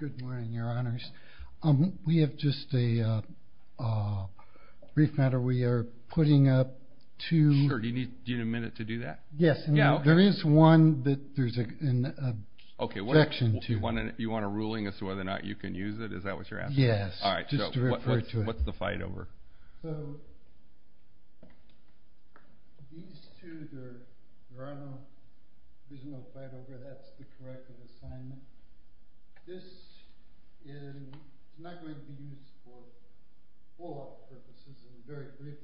Good morning, your honors. We have just a-a brief matter we are putting up to- Sure, do you need a minute to do that? Yes, and there is one that there's a section to. Okay, you want a ruling as to whether or not you can use it? Is that what you're asking? Yes, just to refer to it. All right, so what's the fight over? So, these two, the runoff, there's no fight over, that's the corrective assignment. This is not going to be used for follow-up purposes and very briefly,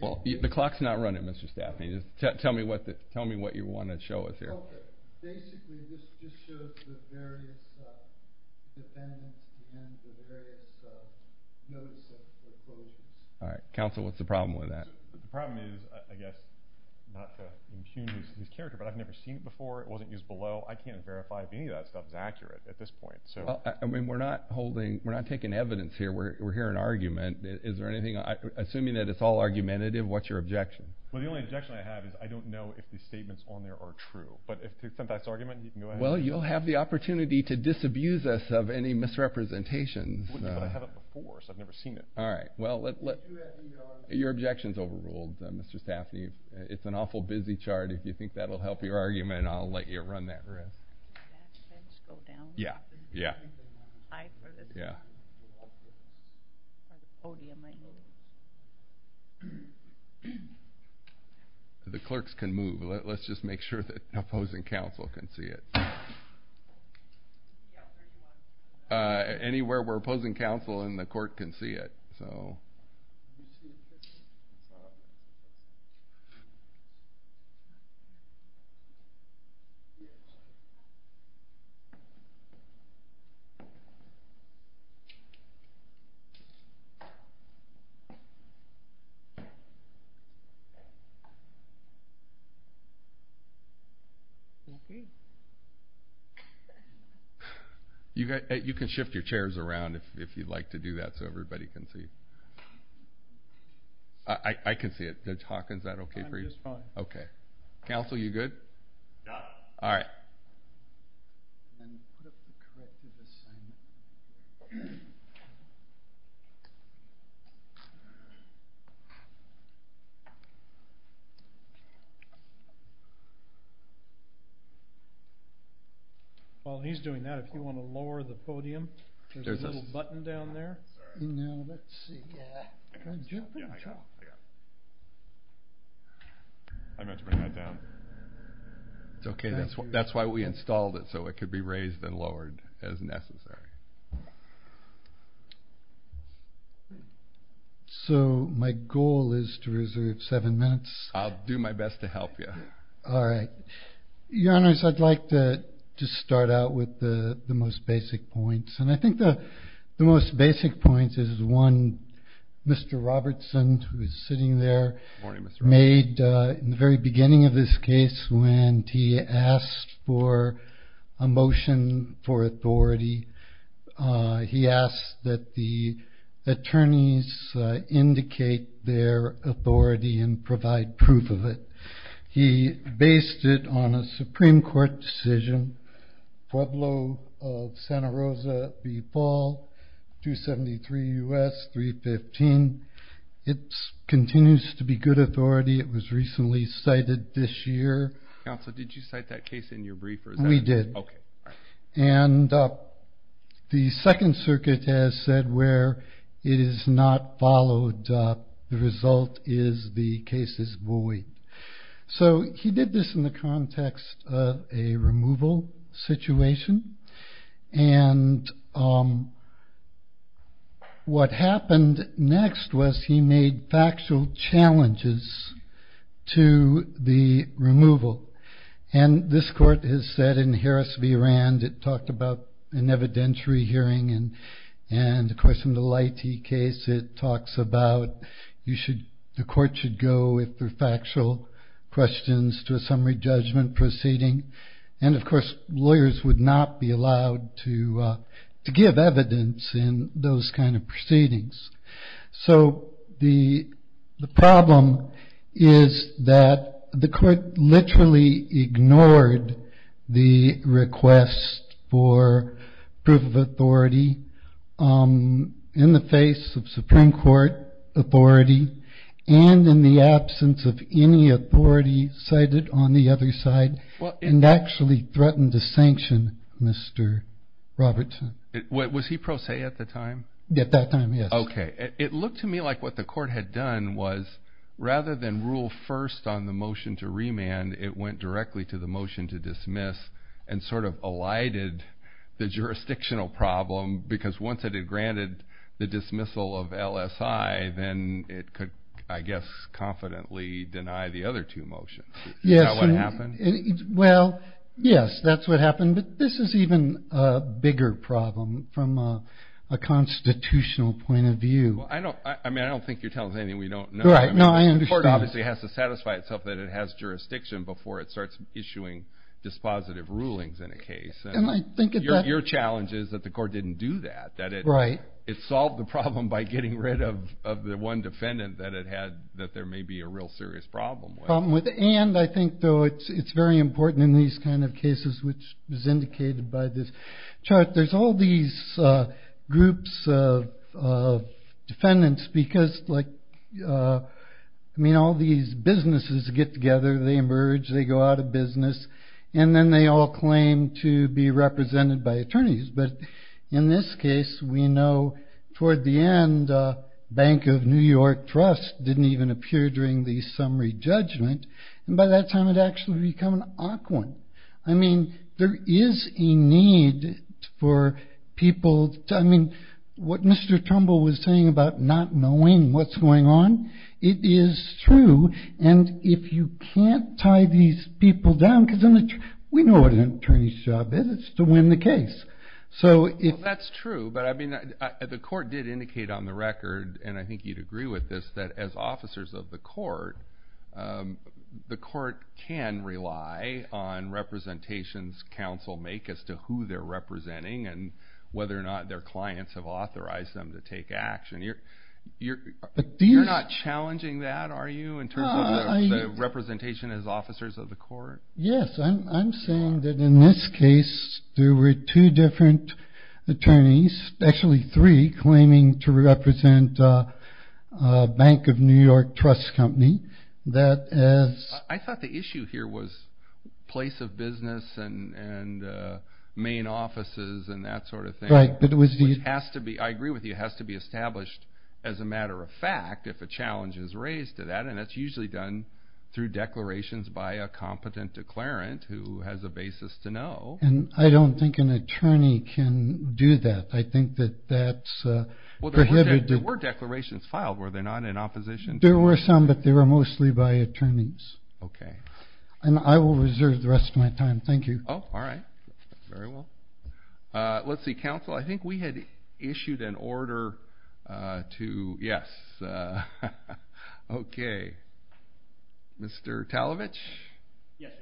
but- Well, the clock's not running, Mr. Staffney. Tell me what you want to show us here. Well, basically, this just shows the various defendants and the various notices of closures. All right, counsel, what's the problem with that? The problem is, I guess, not to impugn this character, but I've never seen it before. It wasn't used below. I can't verify if any of that stuff is accurate at this point, so- I mean, we're not holding- we're not taking evidence here. We're hearing argument. Is there anything- assuming that it's all argumentative, what's your objection? Well, the only objection I have is I don't know if the statements on there are true. But if it's a biased argument, you can go ahead and- Well, you'll have the opportunity to disabuse us of any misrepresentations. But I haven't before, so I've never seen it. All right, well, your objection's overruled, Mr. Staffney. It's an awful busy chart. If you think that'll help your argument, I'll let you run that risk. Can that fence go down? Yeah, yeah. The clerks can move. Let's just make sure that opposing counsel can see it. Anywhere where opposing counsel and the court can see it. All right. You can shift your chairs around if you'd like to do that so everybody can see. I can see it. Judge Hawkins, is that okay for you? I'm just fine. Okay. Counsel, you good? Yeah. All right. While he's doing that, if you want to lower the podium, there's a little button down there. Now, let's see. That's why we installed it, so it could be raised and lowered as necessary. So, my goal is to reserve seven minutes. I'll do my best to help you. All right. Your Honors, I'd like to just start out with the most basic points. And I think the most basic point is one Mr. Robertson, who is sitting there, made in the very beginning of this case, when he asked for a motion for authority, he asked that the attorneys indicate their authority and provide proof of it. He based it on a Supreme Court decision, Pueblo of Santa Rosa v. Paul, 273 U.S., 315. It continues to be good authority. It was recently cited this year. Counsel, did you cite that case in your brief? We did. Okay. All right. The Second Circuit has said where it is not followed, the result is the case is void. So, he did this in the context of a removal situation. And what happened next was he made factual challenges to the removal. And this court has said in Harris v. Rand, it talked about an evidentiary hearing. And, of course, in the Leite case, it talks about the court should go with the factual questions to a summary judgment proceeding. And, of course, lawyers would not be allowed to give evidence in those kind of proceedings. So, the problem is that the court literally ignored the request for proof of authority in the face of Supreme Court authority, and in the absence of any authority cited on the other side, and actually threatened a sanction, Mr. Robertson. Was he pro se at the time? At that time, yes. Okay. It looked to me like what the court had done was rather than rule first on the motion to remand, it went directly to the motion to dismiss and sort of elided the jurisdictional problem, because once it had granted the dismissal of LSI, then it could, I guess, confidently deny the other two motions. Is that what happened? Well, yes, that's what happened. But this is even a bigger problem from a constitutional point of view. I mean, I don't think you're telling us anything we don't know. Right. No, I understand. The court obviously has to satisfy itself that it has jurisdiction before it starts issuing dispositive rulings in a case. And your challenge is that the court didn't do that, that it solved the problem by getting rid of the one defendant that it had that there may be a real serious problem with. And I think, though, it's very important in these kind of cases, which is indicated by this chart, there's all these groups of defendants because, like, I mean, all these businesses get together, they emerge, they go out of business, and then they all claim to be represented by attorneys. But in this case, we know toward the end, Bank of New York Trust didn't even appear during the summary judgment. And by that time, it actually become an awkward. I mean, there is a need for people. I mean, what Mr. Trumbull was saying about not knowing what's going on, it is true. And if you can't tie these people down, because we know what an attorney's job is, it's to win the case. Well, that's true, but I mean, the court did indicate on the record, and I think you'd agree with this, that as officers of the court, the court can rely on representations counsel make as to who they're representing and whether or not their clients have authorized them to take action. You're not challenging that, are you, in terms of representation as officers of the court? Yes, I'm saying that in this case, there were two different attorneys, actually three, claiming to represent Bank of New York Trust Company. I thought the issue here was place of business and main offices and that sort of thing. Which has to be, I agree with you, has to be established as a matter of fact if a challenge is raised to that, and that's usually done through declarations by a competent declarant who has a basis to know. And I don't think an attorney can do that. I think that that's prohibited. Well, there were declarations filed, were there not, in opposition? There were some, but they were mostly by attorneys. Okay. And I will reserve the rest of my time. Thank you. Oh, all right. Very well. Let's see. Counsel, I think we had issued an order to, yes. Okay. Mr. Talovich? Yes, Your Honor.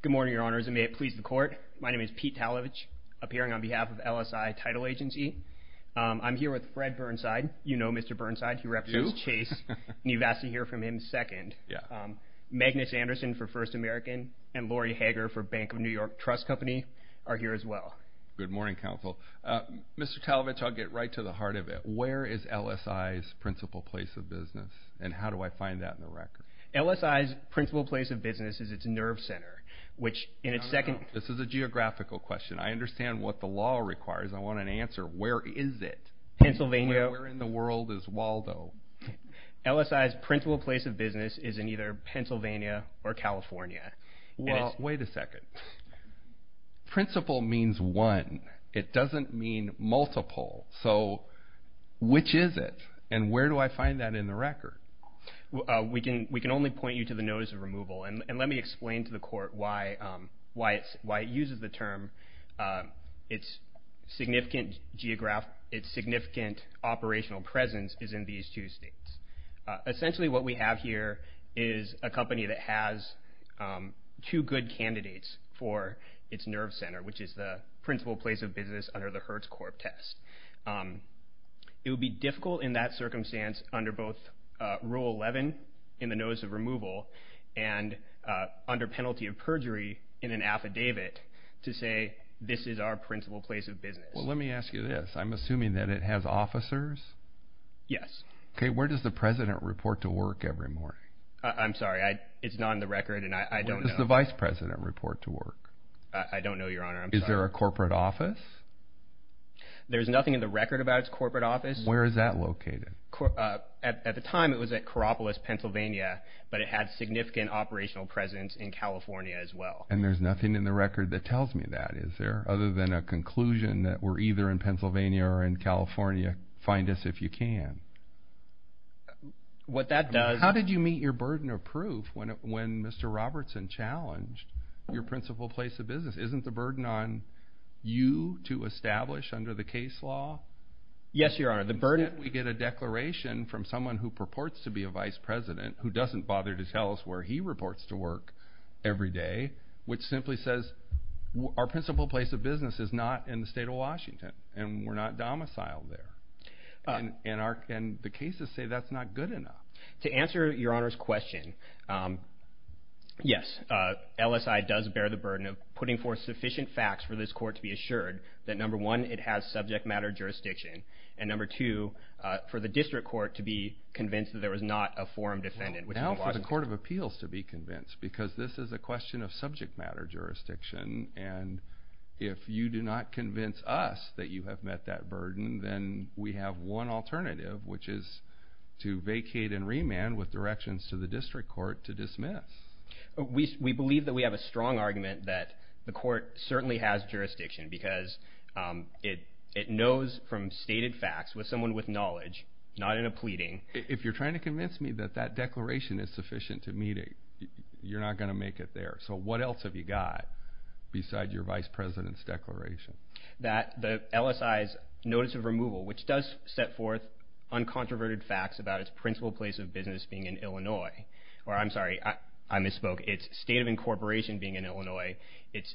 Good morning, Your Honors, and may it please the court. My name is Pete Talovich, appearing on behalf of LSI Title Agency. I'm here with Fred Burnside. You know Mr. Burnside. I do. You've asked to hear from him second. Yeah. Magnus Anderson for First American and Laurie Hager for Bank of New York Trust Company are here as well. Good morning, counsel. Mr. Talovich, I'll get right to the heart of it. Where is LSI's principal place of business, and how do I find that in the record? LSI's principal place of business is its nerve center, which in its second. No, no, no. This is a geographical question. I understand what the law requires. I want an answer. Where is it? Pennsylvania. Where in the world is Waldo? LSI's principal place of business is in either Pennsylvania or California. Well, wait a second. Principal means one. It doesn't mean multiple. So which is it, and where do I find that in the record? We can only point you to the notice of removal. And let me explain to the court why it uses the term. Its significant operational presence is in these two states. Essentially what we have here is a company that has two good candidates for its nerve center, which is the principal place of business under the Hertz Corp test. It would be difficult in that circumstance under both Rule 11 in the notice of removal and under penalty of perjury in an affidavit to say this is our principal place of business. Well, let me ask you this. I'm assuming that it has officers? Yes. Okay. Where does the president report to work every morning? I'm sorry. It's not in the record, and I don't know. Where does the vice president report to work? I don't know, Your Honor. I'm sorry. Is there a corporate office? There's nothing in the record about its corporate office. Where is that located? At the time, it was at Coropolis, Pennsylvania, but it had significant operational presence in California as well. And there's nothing in the record that tells me that, is there, other than a conclusion that we're either in Pennsylvania or in California. Find us if you can. How did you meet your burden of proof when Mr. Robertson challenged your principal place of business? Isn't the burden on you to establish under the case law? Yes, Your Honor. If we get a declaration from someone who purports to be a vice president, who doesn't bother to tell us where he reports to work every day, which simply says our principal place of business is not in the state of Washington and we're not domiciled there, and the cases say that's not good enough. To answer Your Honor's question, yes, LSI does bear the burden of putting forth sufficient facts for this court to be assured that, number one, it has subject matter jurisdiction, and number two, for the district court to be convinced that there was not a forum defendant. Now for the Court of Appeals to be convinced, because this is a question of subject matter jurisdiction, and if you do not convince us that you have met that burden, then we have one alternative, which is to vacate and remand with directions to the district court to dismiss. We believe that we have a strong argument that the court certainly has jurisdiction, because it knows from stated facts with someone with knowledge, not in a pleading. If you're trying to convince me that that declaration is sufficient to meet it, you're not going to make it there. So what else have you got besides your vice president's declaration? That the LSI's notice of removal, which does set forth uncontroverted facts about its principal place of business being in Illinois, or I'm sorry, I misspoke, its state of incorporation being in Illinois, its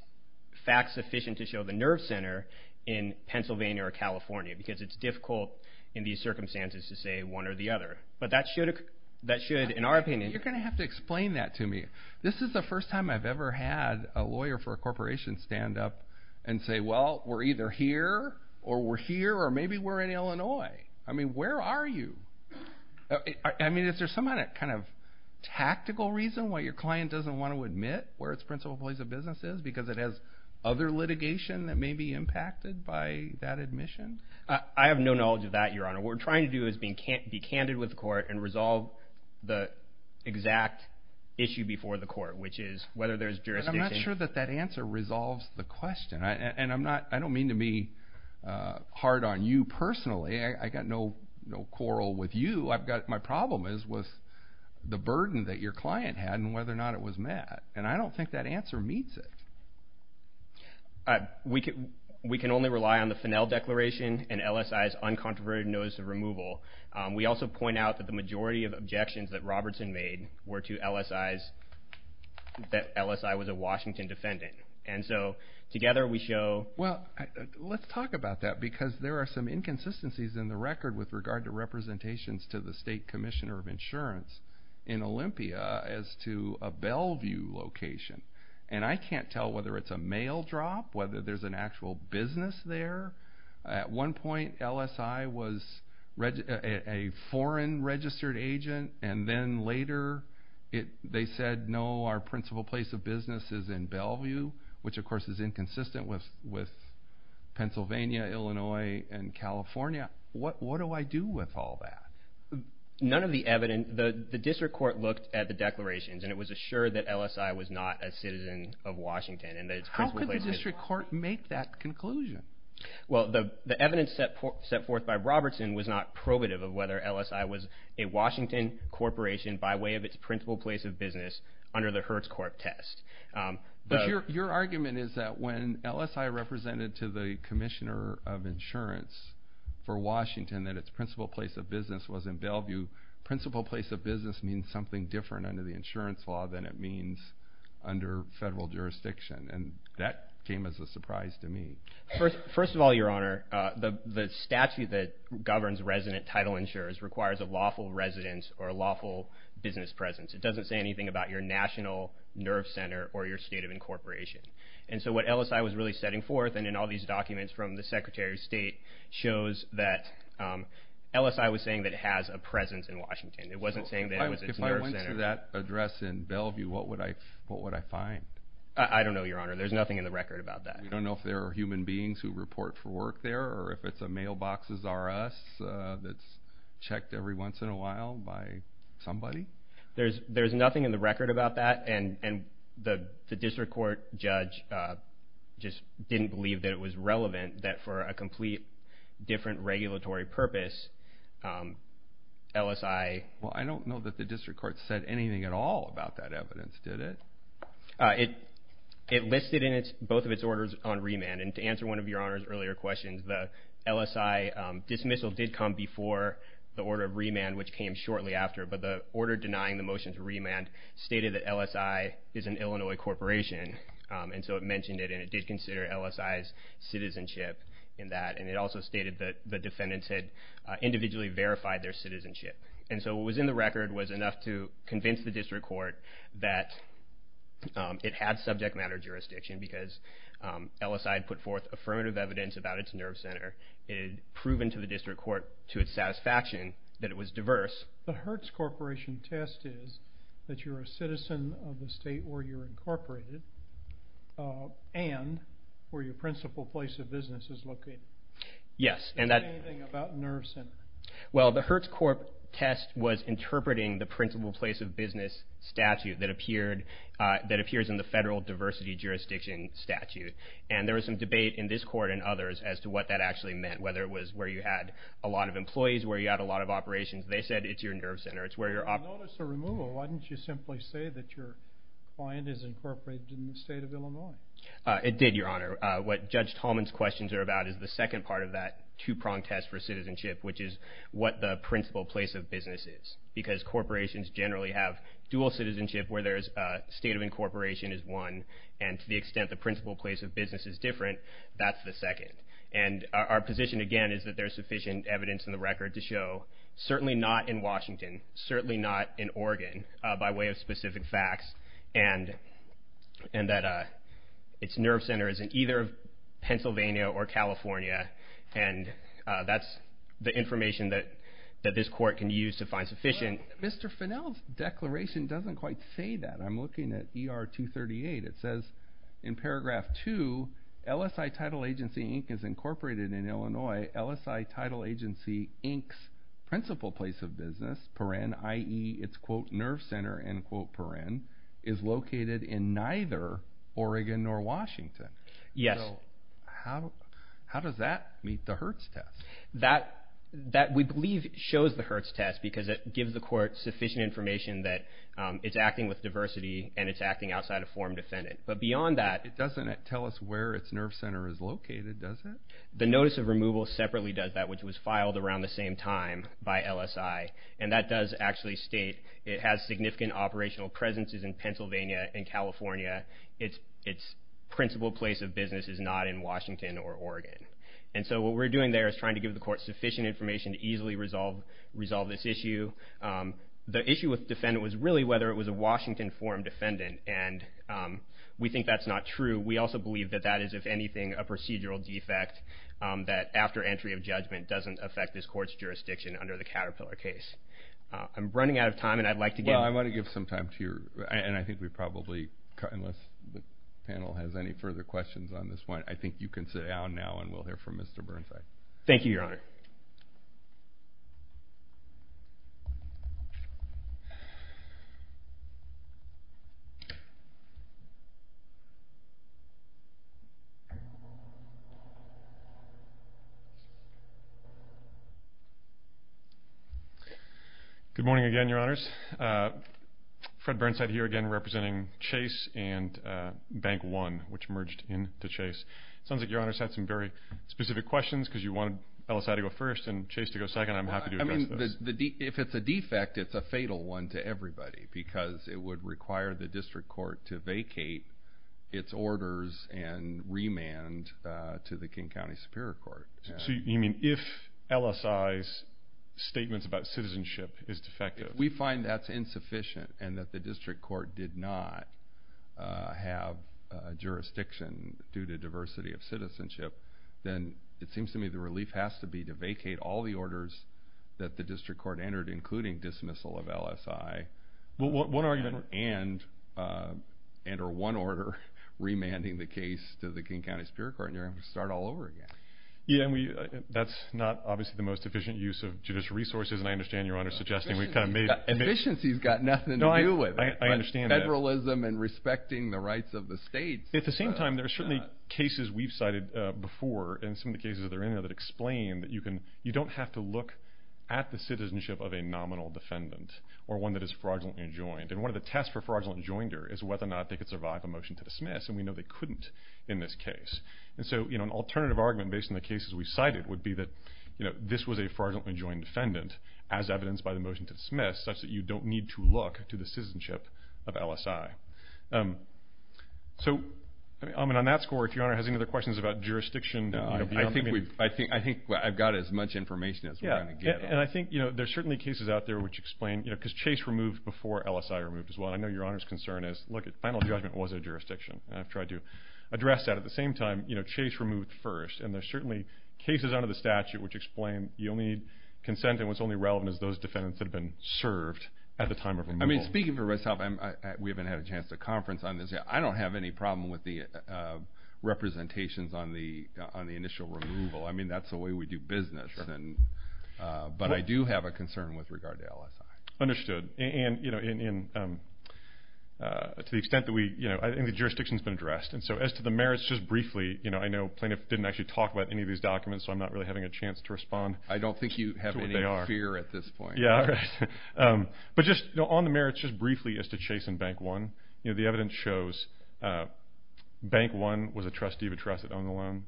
facts sufficient to show the nerve center in Pennsylvania or California, because it's difficult in these circumstances to say one or the other. But that should, in our opinion, you're going to have to explain that to me. This is the first time I've ever had a lawyer for a corporation stand up and say, well, we're either here, or we're here, or maybe we're in Illinois. I mean, where are you? I mean, is there some kind of tactical reason why your client doesn't want to admit where its principal place of business is, because it has other litigation that may be impacted by that admission? I have no knowledge of that, Your Honor. What we're trying to do is be candid with the court and resolve the exact issue before the court, which is whether there's jurisdiction. I'm not sure that that answer resolves the question, and I don't mean to be hard on you personally. I've got no quarrel with you. My problem is with the burden that your client had and whether or not it was met, and I don't think that answer meets it. We can only rely on the Finnell Declaration and LSI's uncontroverted notice of removal. We also point out that the majority of objections that Robertson made were to LSI's, that LSI was a Washington defendant, and so together we show. Well, let's talk about that, because there are some inconsistencies in the record with regard to representations to the state commissioner of insurance in Olympia as to a Bellevue location, and I can't tell whether it's a mail drop, whether there's an actual business there. At one point, LSI was a foreign registered agent, and then later they said, no, our principal place of business is in Bellevue, which of course is inconsistent with Pennsylvania, Illinois, and California. What do I do with all that? None of the evidence. The district court looked at the declarations, and it was assured that LSI was not a citizen of Washington. How could the district court make that conclusion? Well, the evidence set forth by Robertson was not probative of whether LSI was a Washington corporation by way of its principal place of business under the Hertz Corp test. But your argument is that when LSI represented to the commissioner of insurance for Washington that its principal place of business was in Bellevue, principal place of business means something different under the insurance law than it means under federal jurisdiction, and that came as a surprise to me. First of all, Your Honor, the statute that governs resident title insurers requires a lawful resident or a lawful business presence. It doesn't say anything about your national nerve center or your state of incorporation. And so what LSI was really setting forth, and in all these documents from the Secretary of State, shows that LSI was saying that it has a presence in Washington. It wasn't saying that it was its nerve center. If I went to that address in Bellevue, what would I find? I don't know, Your Honor. There's nothing in the record about that. You don't know if there are human beings who report for work there or if it's a mailbox's R.S. that's checked every once in a while by somebody? There's nothing in the record about that, and the district court judge just didn't believe that it was relevant, that for a complete different regulatory purpose, LSI. Well, I don't know that the district court said anything at all about that evidence, did it? It listed both of its orders on remand. And to answer one of Your Honor's earlier questions, the LSI dismissal did come before the order of remand, which came shortly after. But the order denying the motion to remand stated that LSI is an Illinois corporation, and so it mentioned it, and it did consider LSI's citizenship in that. And it also stated that the defendants had individually verified their citizenship. And so what was in the record was enough to convince the district court that it had subject matter jurisdiction because LSI had put forth affirmative evidence about its nerve center. It had proven to the district court to its satisfaction that it was diverse. The Hertz Corporation test is that you're a citizen of the state where you're incorporated and where your principal place of business is located. Yes. Did it say anything about nerve center? Well, the Hertz Corp test was interpreting the principal place of business statute that appears in the federal diversity jurisdiction statute. And there was some debate in this court and others as to what that actually meant, whether it was where you had a lot of employees, where you had a lot of operations. They said it's your nerve center. If you notice a removal, why didn't you simply say that your client is incorporated in the state of Illinois? It did, Your Honor. What Judge Tolman's questions are about is the second part of that two-prong test for citizenship, which is what the principal place of business is. Because corporations generally have dual citizenship where there's a state of incorporation is one and to the extent the principal place of business is different, that's the second. And our position, again, is that there's sufficient evidence in the record to show, certainly not in Washington, certainly not in Oregon, by way of specific facts, and that its nerve center is in either Pennsylvania or California. And that's the information that this court can use to find sufficient. Mr. Finnell's declaration doesn't quite say that. I'm looking at ER 238. It says in paragraph 2, LSI Title Agency Inc. is incorporated in Illinois. LSI Title Agency Inc.'s principal place of business, per-en, i.e., its, quote, nerve center, end quote, per-en, is located in neither Oregon nor Washington. Yes. So how does that meet the Hertz test? That, we believe, shows the Hertz test because it gives the court sufficient information that it's acting with diversity and it's acting outside of form defendant. But beyond that. It doesn't tell us where its nerve center is located, does it? The notice of removal separately does that, which was filed around the same time by LSI. And that does actually state it has significant operational presences in Pennsylvania and California. Its principal place of business is not in Washington or Oregon. And so what we're doing there is trying to give the court sufficient information to easily resolve this issue. The issue with defendant was really whether it was a Washington form defendant. And we think that's not true. We also believe that that is, if anything, a procedural defect that, after entry of judgment, doesn't affect this court's jurisdiction under the Caterpillar case. I'm running out of time, and I'd like to give. Well, I want to give some time to your, and I think we probably, unless the panel has any further questions on this one, I think you can sit down now and we'll hear from Mr. Burnside. Thank you, Your Honor. Thank you. Good morning again, Your Honors. Fred Burnside here again representing Chase and Bank One, which merged into Chase. It sounds like Your Honors had some very specific questions because you wanted LSI to go first and Chase to go second. I'm happy to address this. If it's a defect, it's a fatal one to everybody because it would require the district court to vacate its orders and remand to the King County Superior Court. So you mean if LSI's statements about citizenship is defective? If we find that's insufficient and that the district court did not have jurisdiction due to diversity of citizenship, then it seems to me the relief has to be to vacate all the orders that the district court entered, including dismissal of LSI and enter one order, remanding the case to the King County Superior Court, and you're going to have to start all over again. That's not obviously the most efficient use of judicial resources, and I understand Your Honors suggesting we've kind of made... Efficiency's got nothing to do with it. I understand that. Federalism and respecting the rights of the states. At the same time, there are certainly cases we've cited before and some of the cases that are in there that explain that you don't have to look at the citizenship of a nominal defendant or one that is fraudulently enjoined, and one of the tests for fraudulently enjoined is whether or not they could survive a motion to dismiss, and we know they couldn't in this case. And so an alternative argument based on the cases we cited would be that this was a fraudulently enjoined defendant, as evidenced by the motion to dismiss, such that you don't need to look to the citizenship of LSI. So on that score, if Your Honor has any other questions about jurisdiction... No, I think I've got as much information as we're going to get. Yeah, and I think there are certainly cases out there which explain, because Chase removed before LSI removed as well, and I know Your Honor's concern is, look, a final judgment was a jurisdiction, and I've tried to address that. At the same time, Chase removed first, and there are certainly cases under the statute which explain you'll need consent, and what's only relevant is those defendants that have been served at the time of removal. I mean, speaking for myself, we haven't had a chance to conference on this yet. I don't have any problem with the representations on the initial removal. I mean, that's the way we do business, but I do have a concern with regard to LSI. Understood. And, you know, to the extent that we, you know, I think the jurisdiction's been addressed. And so as to the merits, just briefly, you know, I know Plaintiff didn't actually talk about any of these documents, so I'm not really having a chance to respond to what they are. I don't think you have any fear at this point. Yeah, all right. But just on the merits, just briefly, as to Chase and Bank One, you know, the evidence shows Bank One was a trustee of a trust that owned the loan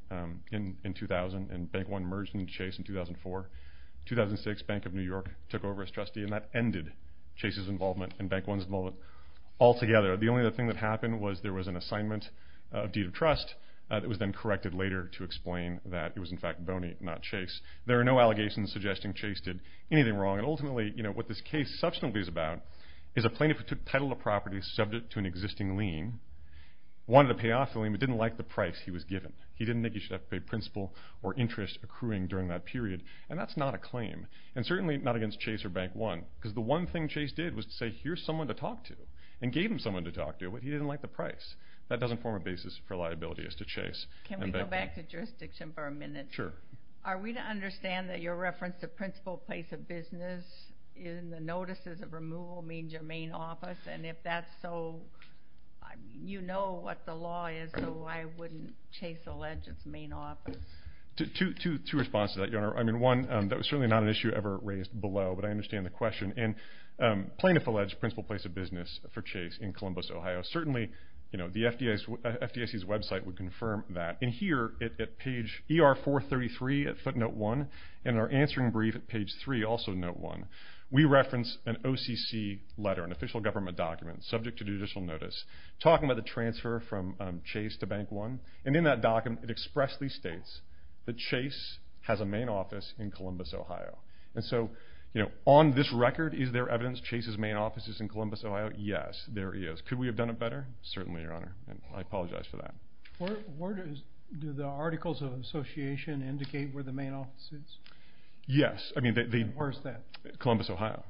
in 2000, and Bank One merged with Chase in 2004. In 2006, Bank of New York took over as trustee, and that ended Chase's involvement and Bank One's involvement altogether. The only other thing that happened was there was an assignment of deed of trust that was then corrected later to explain that it was, in fact, Boney, not Chase. There are no allegations suggesting Chase did anything wrong. And ultimately, you know, what this case subsequently is about is a plaintiff who took title of property subject to an existing lien, wanted to pay off the lien, but didn't like the price he was given. He didn't think he should have to pay principal or interest accruing during that period. And that's not a claim, and certainly not against Chase or Bank One, because the one thing Chase did was to say, here's someone to talk to, and gave him someone to talk to, but he didn't like the price. That doesn't form a basis for liability as to Chase and Bank One. Can we go back to jurisdiction for a minute? Sure. Are we to understand that your reference to principal place of business in the notices of removal means your main office? And if that's so, you know what the law is, so why wouldn't Chase allege its main office? Two responses to that, Your Honor. I mean, one, that was certainly not an issue ever raised below, but I understand the question. And plaintiff alleged principal place of business for Chase in Columbus, Ohio. Certainly, you know, the FDIC's website would confirm that. And here, at page ER433 at footnote 1, and our answering brief at page 3, also note 1, we reference an OCC letter, an official government document, subject to judicial notice, talking about the transfer from Chase to Bank One. And in that document, it expressly states that Chase has a main office in Columbus, Ohio. And so, you know, on this record, is there evidence Chase's main office is in Columbus, Ohio? Yes, there is. Could we have done it better? Certainly, Your Honor. I apologize for that. Do the articles of association indicate where the main office is? Yes. Where is that? Columbus, Ohio.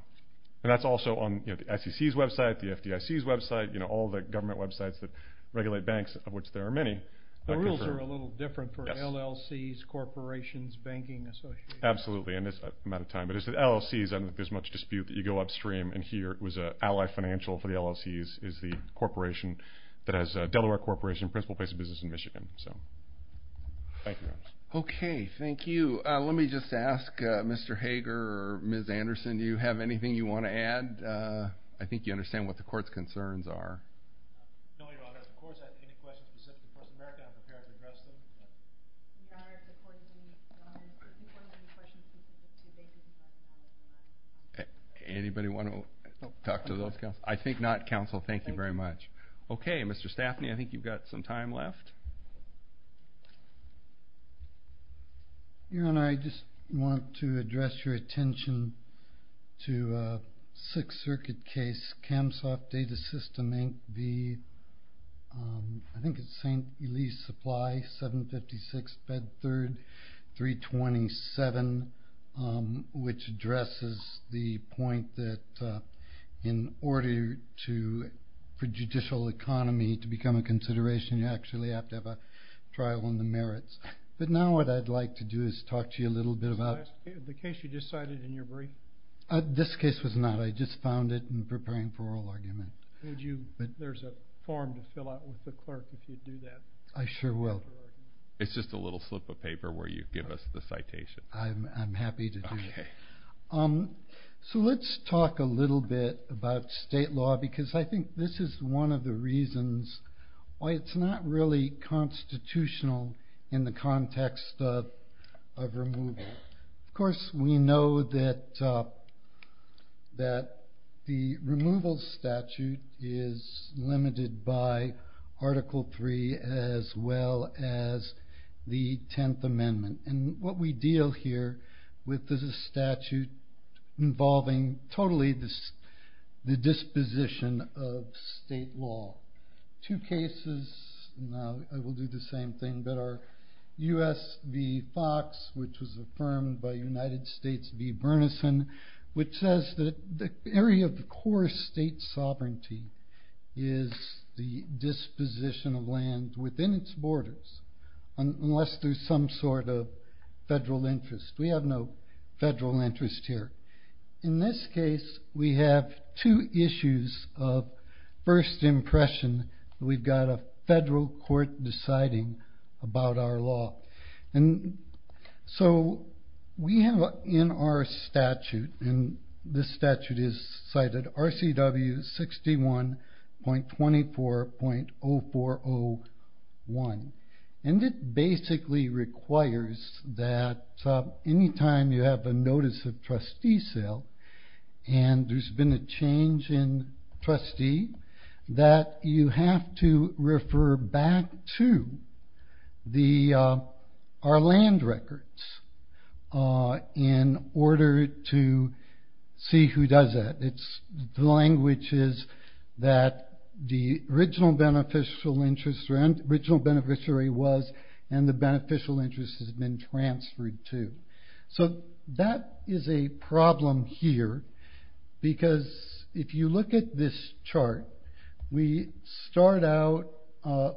And that's also on the SEC's website, the FDIC's website, you know, all the government websites that regulate banks, of which there are many. The rules are a little different for LLCs, corporations, banking associations. Absolutely, in this amount of time. But it's the LLCs. I don't think there's much dispute that you go upstream, and here it was an ally financial for the LLCs, is the corporation that has Delaware Corporation, principal place of business in Michigan. So thank you, Your Honor. Okay, thank you. Let me just ask Mr. Hager or Ms. Anderson, do you have anything you want to add? I think you understand what the court's concerns are. No, Your Honor. The court's asking any questions specific to the courts of America. I'm prepared to address them. Your Honor, before you do, if you want to ask any questions, please do. Thank you. Anybody want to talk to those counsels? I think not, counsel. Thank you very much. Okay, Mr. Staffney, I think you've got some time left. Your Honor, I just want to address your attention to a Sixth Circuit case, CAMSOFT Data System Inc., I think it's St. Ely's Supply, 756 Bed 3rd, 327, which addresses the point that in order for judicial economy to become a consideration, you actually have to have a trial on the merits. But now what I'd like to do is talk to you a little bit about the case you just cited in your brief. This case was not. I just found it in preparing for oral argument. There's a form to fill out with the clerk if you do that. I sure will. It's just a little slip of paper where you give us the citation. I'm happy to do that. So let's talk a little bit about state law because I think this is one of the reasons why it's not really constitutional in the context of removal. Of course, we know that the removal statute is limited by Article III as well as the Tenth Amendment. And what we deal here with is a statute involving totally the disposition of state law. Two cases, now I will do the same thing, but are U.S. v. Fox, which was affirmed by United States v. Bernison, which says that the area of the core state sovereignty is the disposition of land within its borders unless there's some sort of federal interest. We have no federal interest here. In this case, we have two issues of first impression. We've got a federal court deciding about our law. So we have in our statute, and this statute is cited, RCW 61.24.0401. And it basically requires that any time you have a notice of trustee sale and there's been a change in trustee, that you have to refer back to our land records in order to see who does that. It's the languages that the original beneficiary was and the beneficial interest has been transferred to. So that is a problem here because if you look at this chart, we start out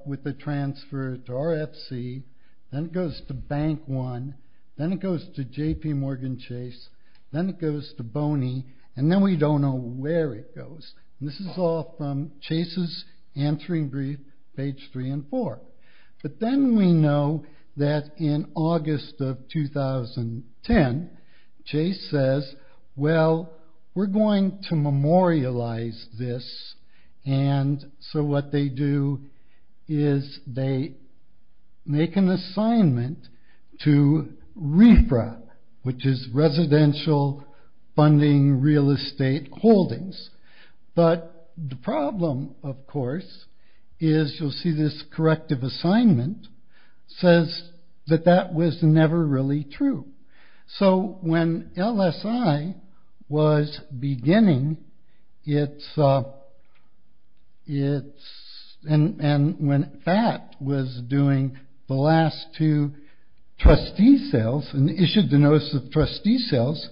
with the transfer to RFC, then it goes to Bank One, then it goes to JPMorgan Chase, then it goes to Boney, and then we don't know where it goes. This is all from Chase's answering brief, page three and four. But then we know that in August of 2010, Chase says, well, we're going to memorialize this. So what they do is they make an assignment to RFRA, which is Residential Funding Real Estate Holdings. But the problem, of course, is you'll see this corrective assignment says that that was never really true. So when LSI was beginning, and when FAT was doing the last two trustee sales and issued the notice of trustee sales,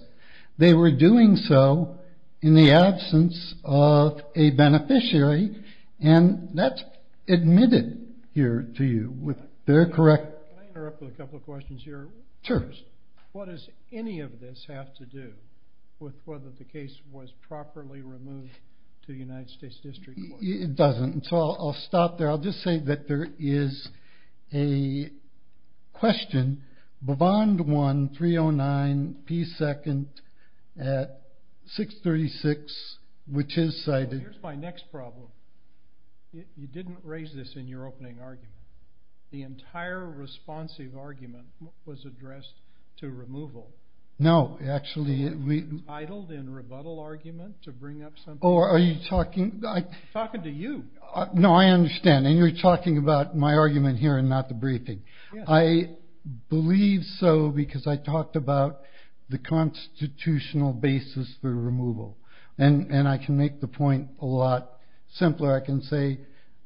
they were doing so in the absence of a beneficiary and that's admitted here to you with their correct... What does any of this have to do with whether the case was properly removed to the United States District Court? It doesn't. So I'll stop there. I'll just say that there is a question. Bobond won 309P2nd at 636, which is cited... Here's my next problem. You didn't raise this in your opening argument. The entire responsive argument was addressed to removal. No, actually... Idled in rebuttal argument to bring up something... Oh, are you talking... Talking to you. No, I understand. And you're talking about my argument here and not the briefing. I believe so because I talked about the constitutional basis for removal. And I can make the point a lot simpler. I can say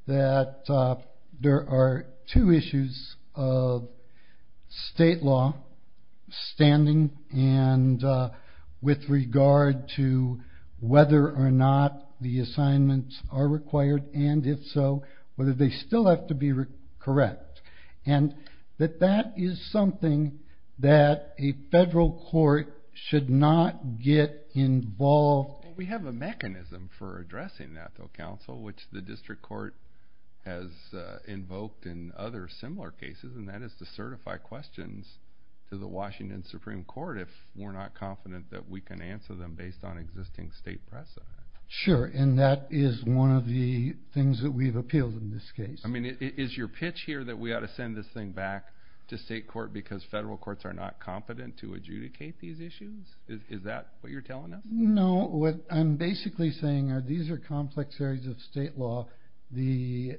that there are two issues of state law standing and with regard to whether or not the assignments are required and, if so, whether they still have to be correct. And that that is something that a federal court should not get involved... which the district court has invoked in other similar cases, and that is to certify questions to the Washington Supreme Court if we're not confident that we can answer them based on existing state precedent. Sure, and that is one of the things that we've appealed in this case. I mean, is your pitch here that we ought to send this thing back to state court because federal courts are not competent to adjudicate these issues? Is that what you're telling us? No, what I'm basically saying are these are complex areas of state law. The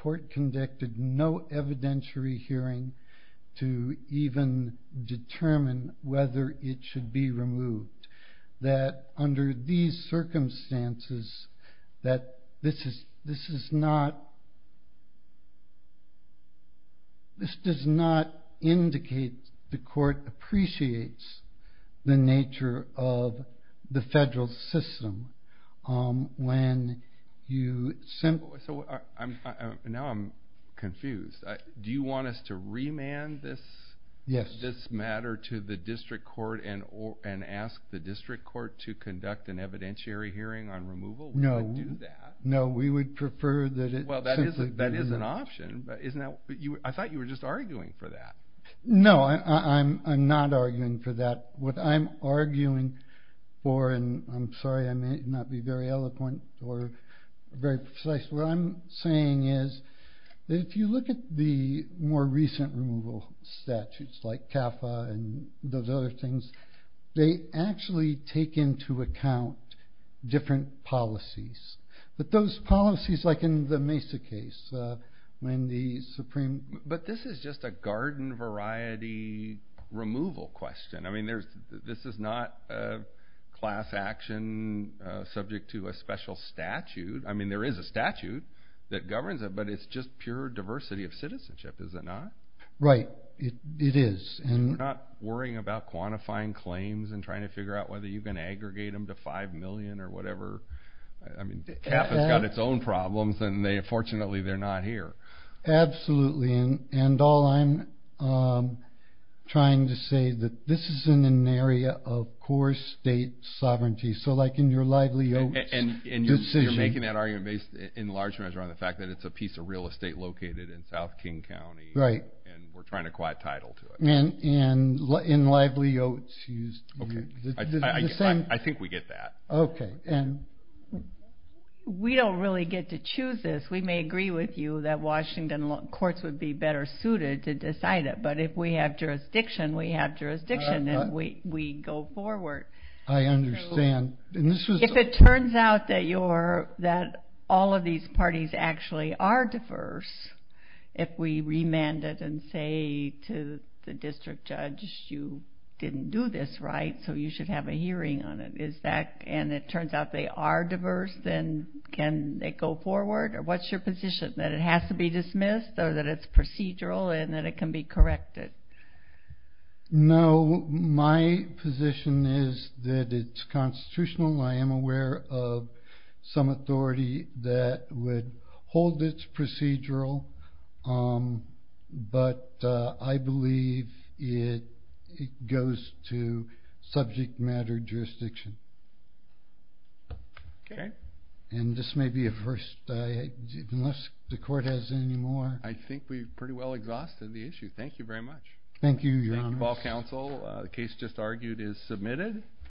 court conducted no evidentiary hearing to even determine whether it should be removed. That under these circumstances, this does not indicate the court appreciates the nature of the federal system. Now I'm confused. Do you want us to remand this matter to the district court and ask the district court to conduct an evidentiary hearing on removal? No, we would prefer that it simply be... Well, that is an option. I thought you were just arguing for that. No, I'm not arguing for that. What I'm arguing for, and I'm sorry I may not be very eloquent or very precise, what I'm saying is that if you look at the more recent removal statutes, like CAFA and those other things, they actually take into account different policies. But those policies, like in the Mesa case, when the Supreme... But this is just a garden variety removal question. I mean, this is not a class action subject to a special statute. I mean, there is a statute that governs it, but it's just pure diversity of citizenship, is it not? Right, it is. You're not worrying about quantifying claims and trying to figure out whether you can aggregate them to 5 million or whatever? I mean, CAFA's got its own problems, and fortunately they're not here. Absolutely. And all I'm trying to say is that this is in an area of core state sovereignty. So, like, in your livelihood... And you're making that argument in large measure on the fact that it's a piece of real estate located in South King County. Right. And we're trying to acquire title to it. And lively oats used... I think we get that. Okay. We don't really get to choose this. We may agree with you that Washington courts would be better suited to decide it, but if we have jurisdiction, we have jurisdiction, and we go forward. I understand. If it turns out that all of these parties actually are diverse, if we remand it and say to the district judge, you didn't do this right, so you should have a hearing on it, and it turns out they are diverse, then can they go forward? What's your position, that it has to be dismissed or that it's procedural and that it can be corrected? No. My position is that it's constitutional. I am aware of some authority that would hold it's procedural, but I believe it goes to subject matter jurisdiction. Okay. And this may be a first. Unless the court has any more. I think we've pretty well exhausted the issue. Thank you very much. Thank you, Your Honor. Thank you, all counsel. The case just argued is submitted.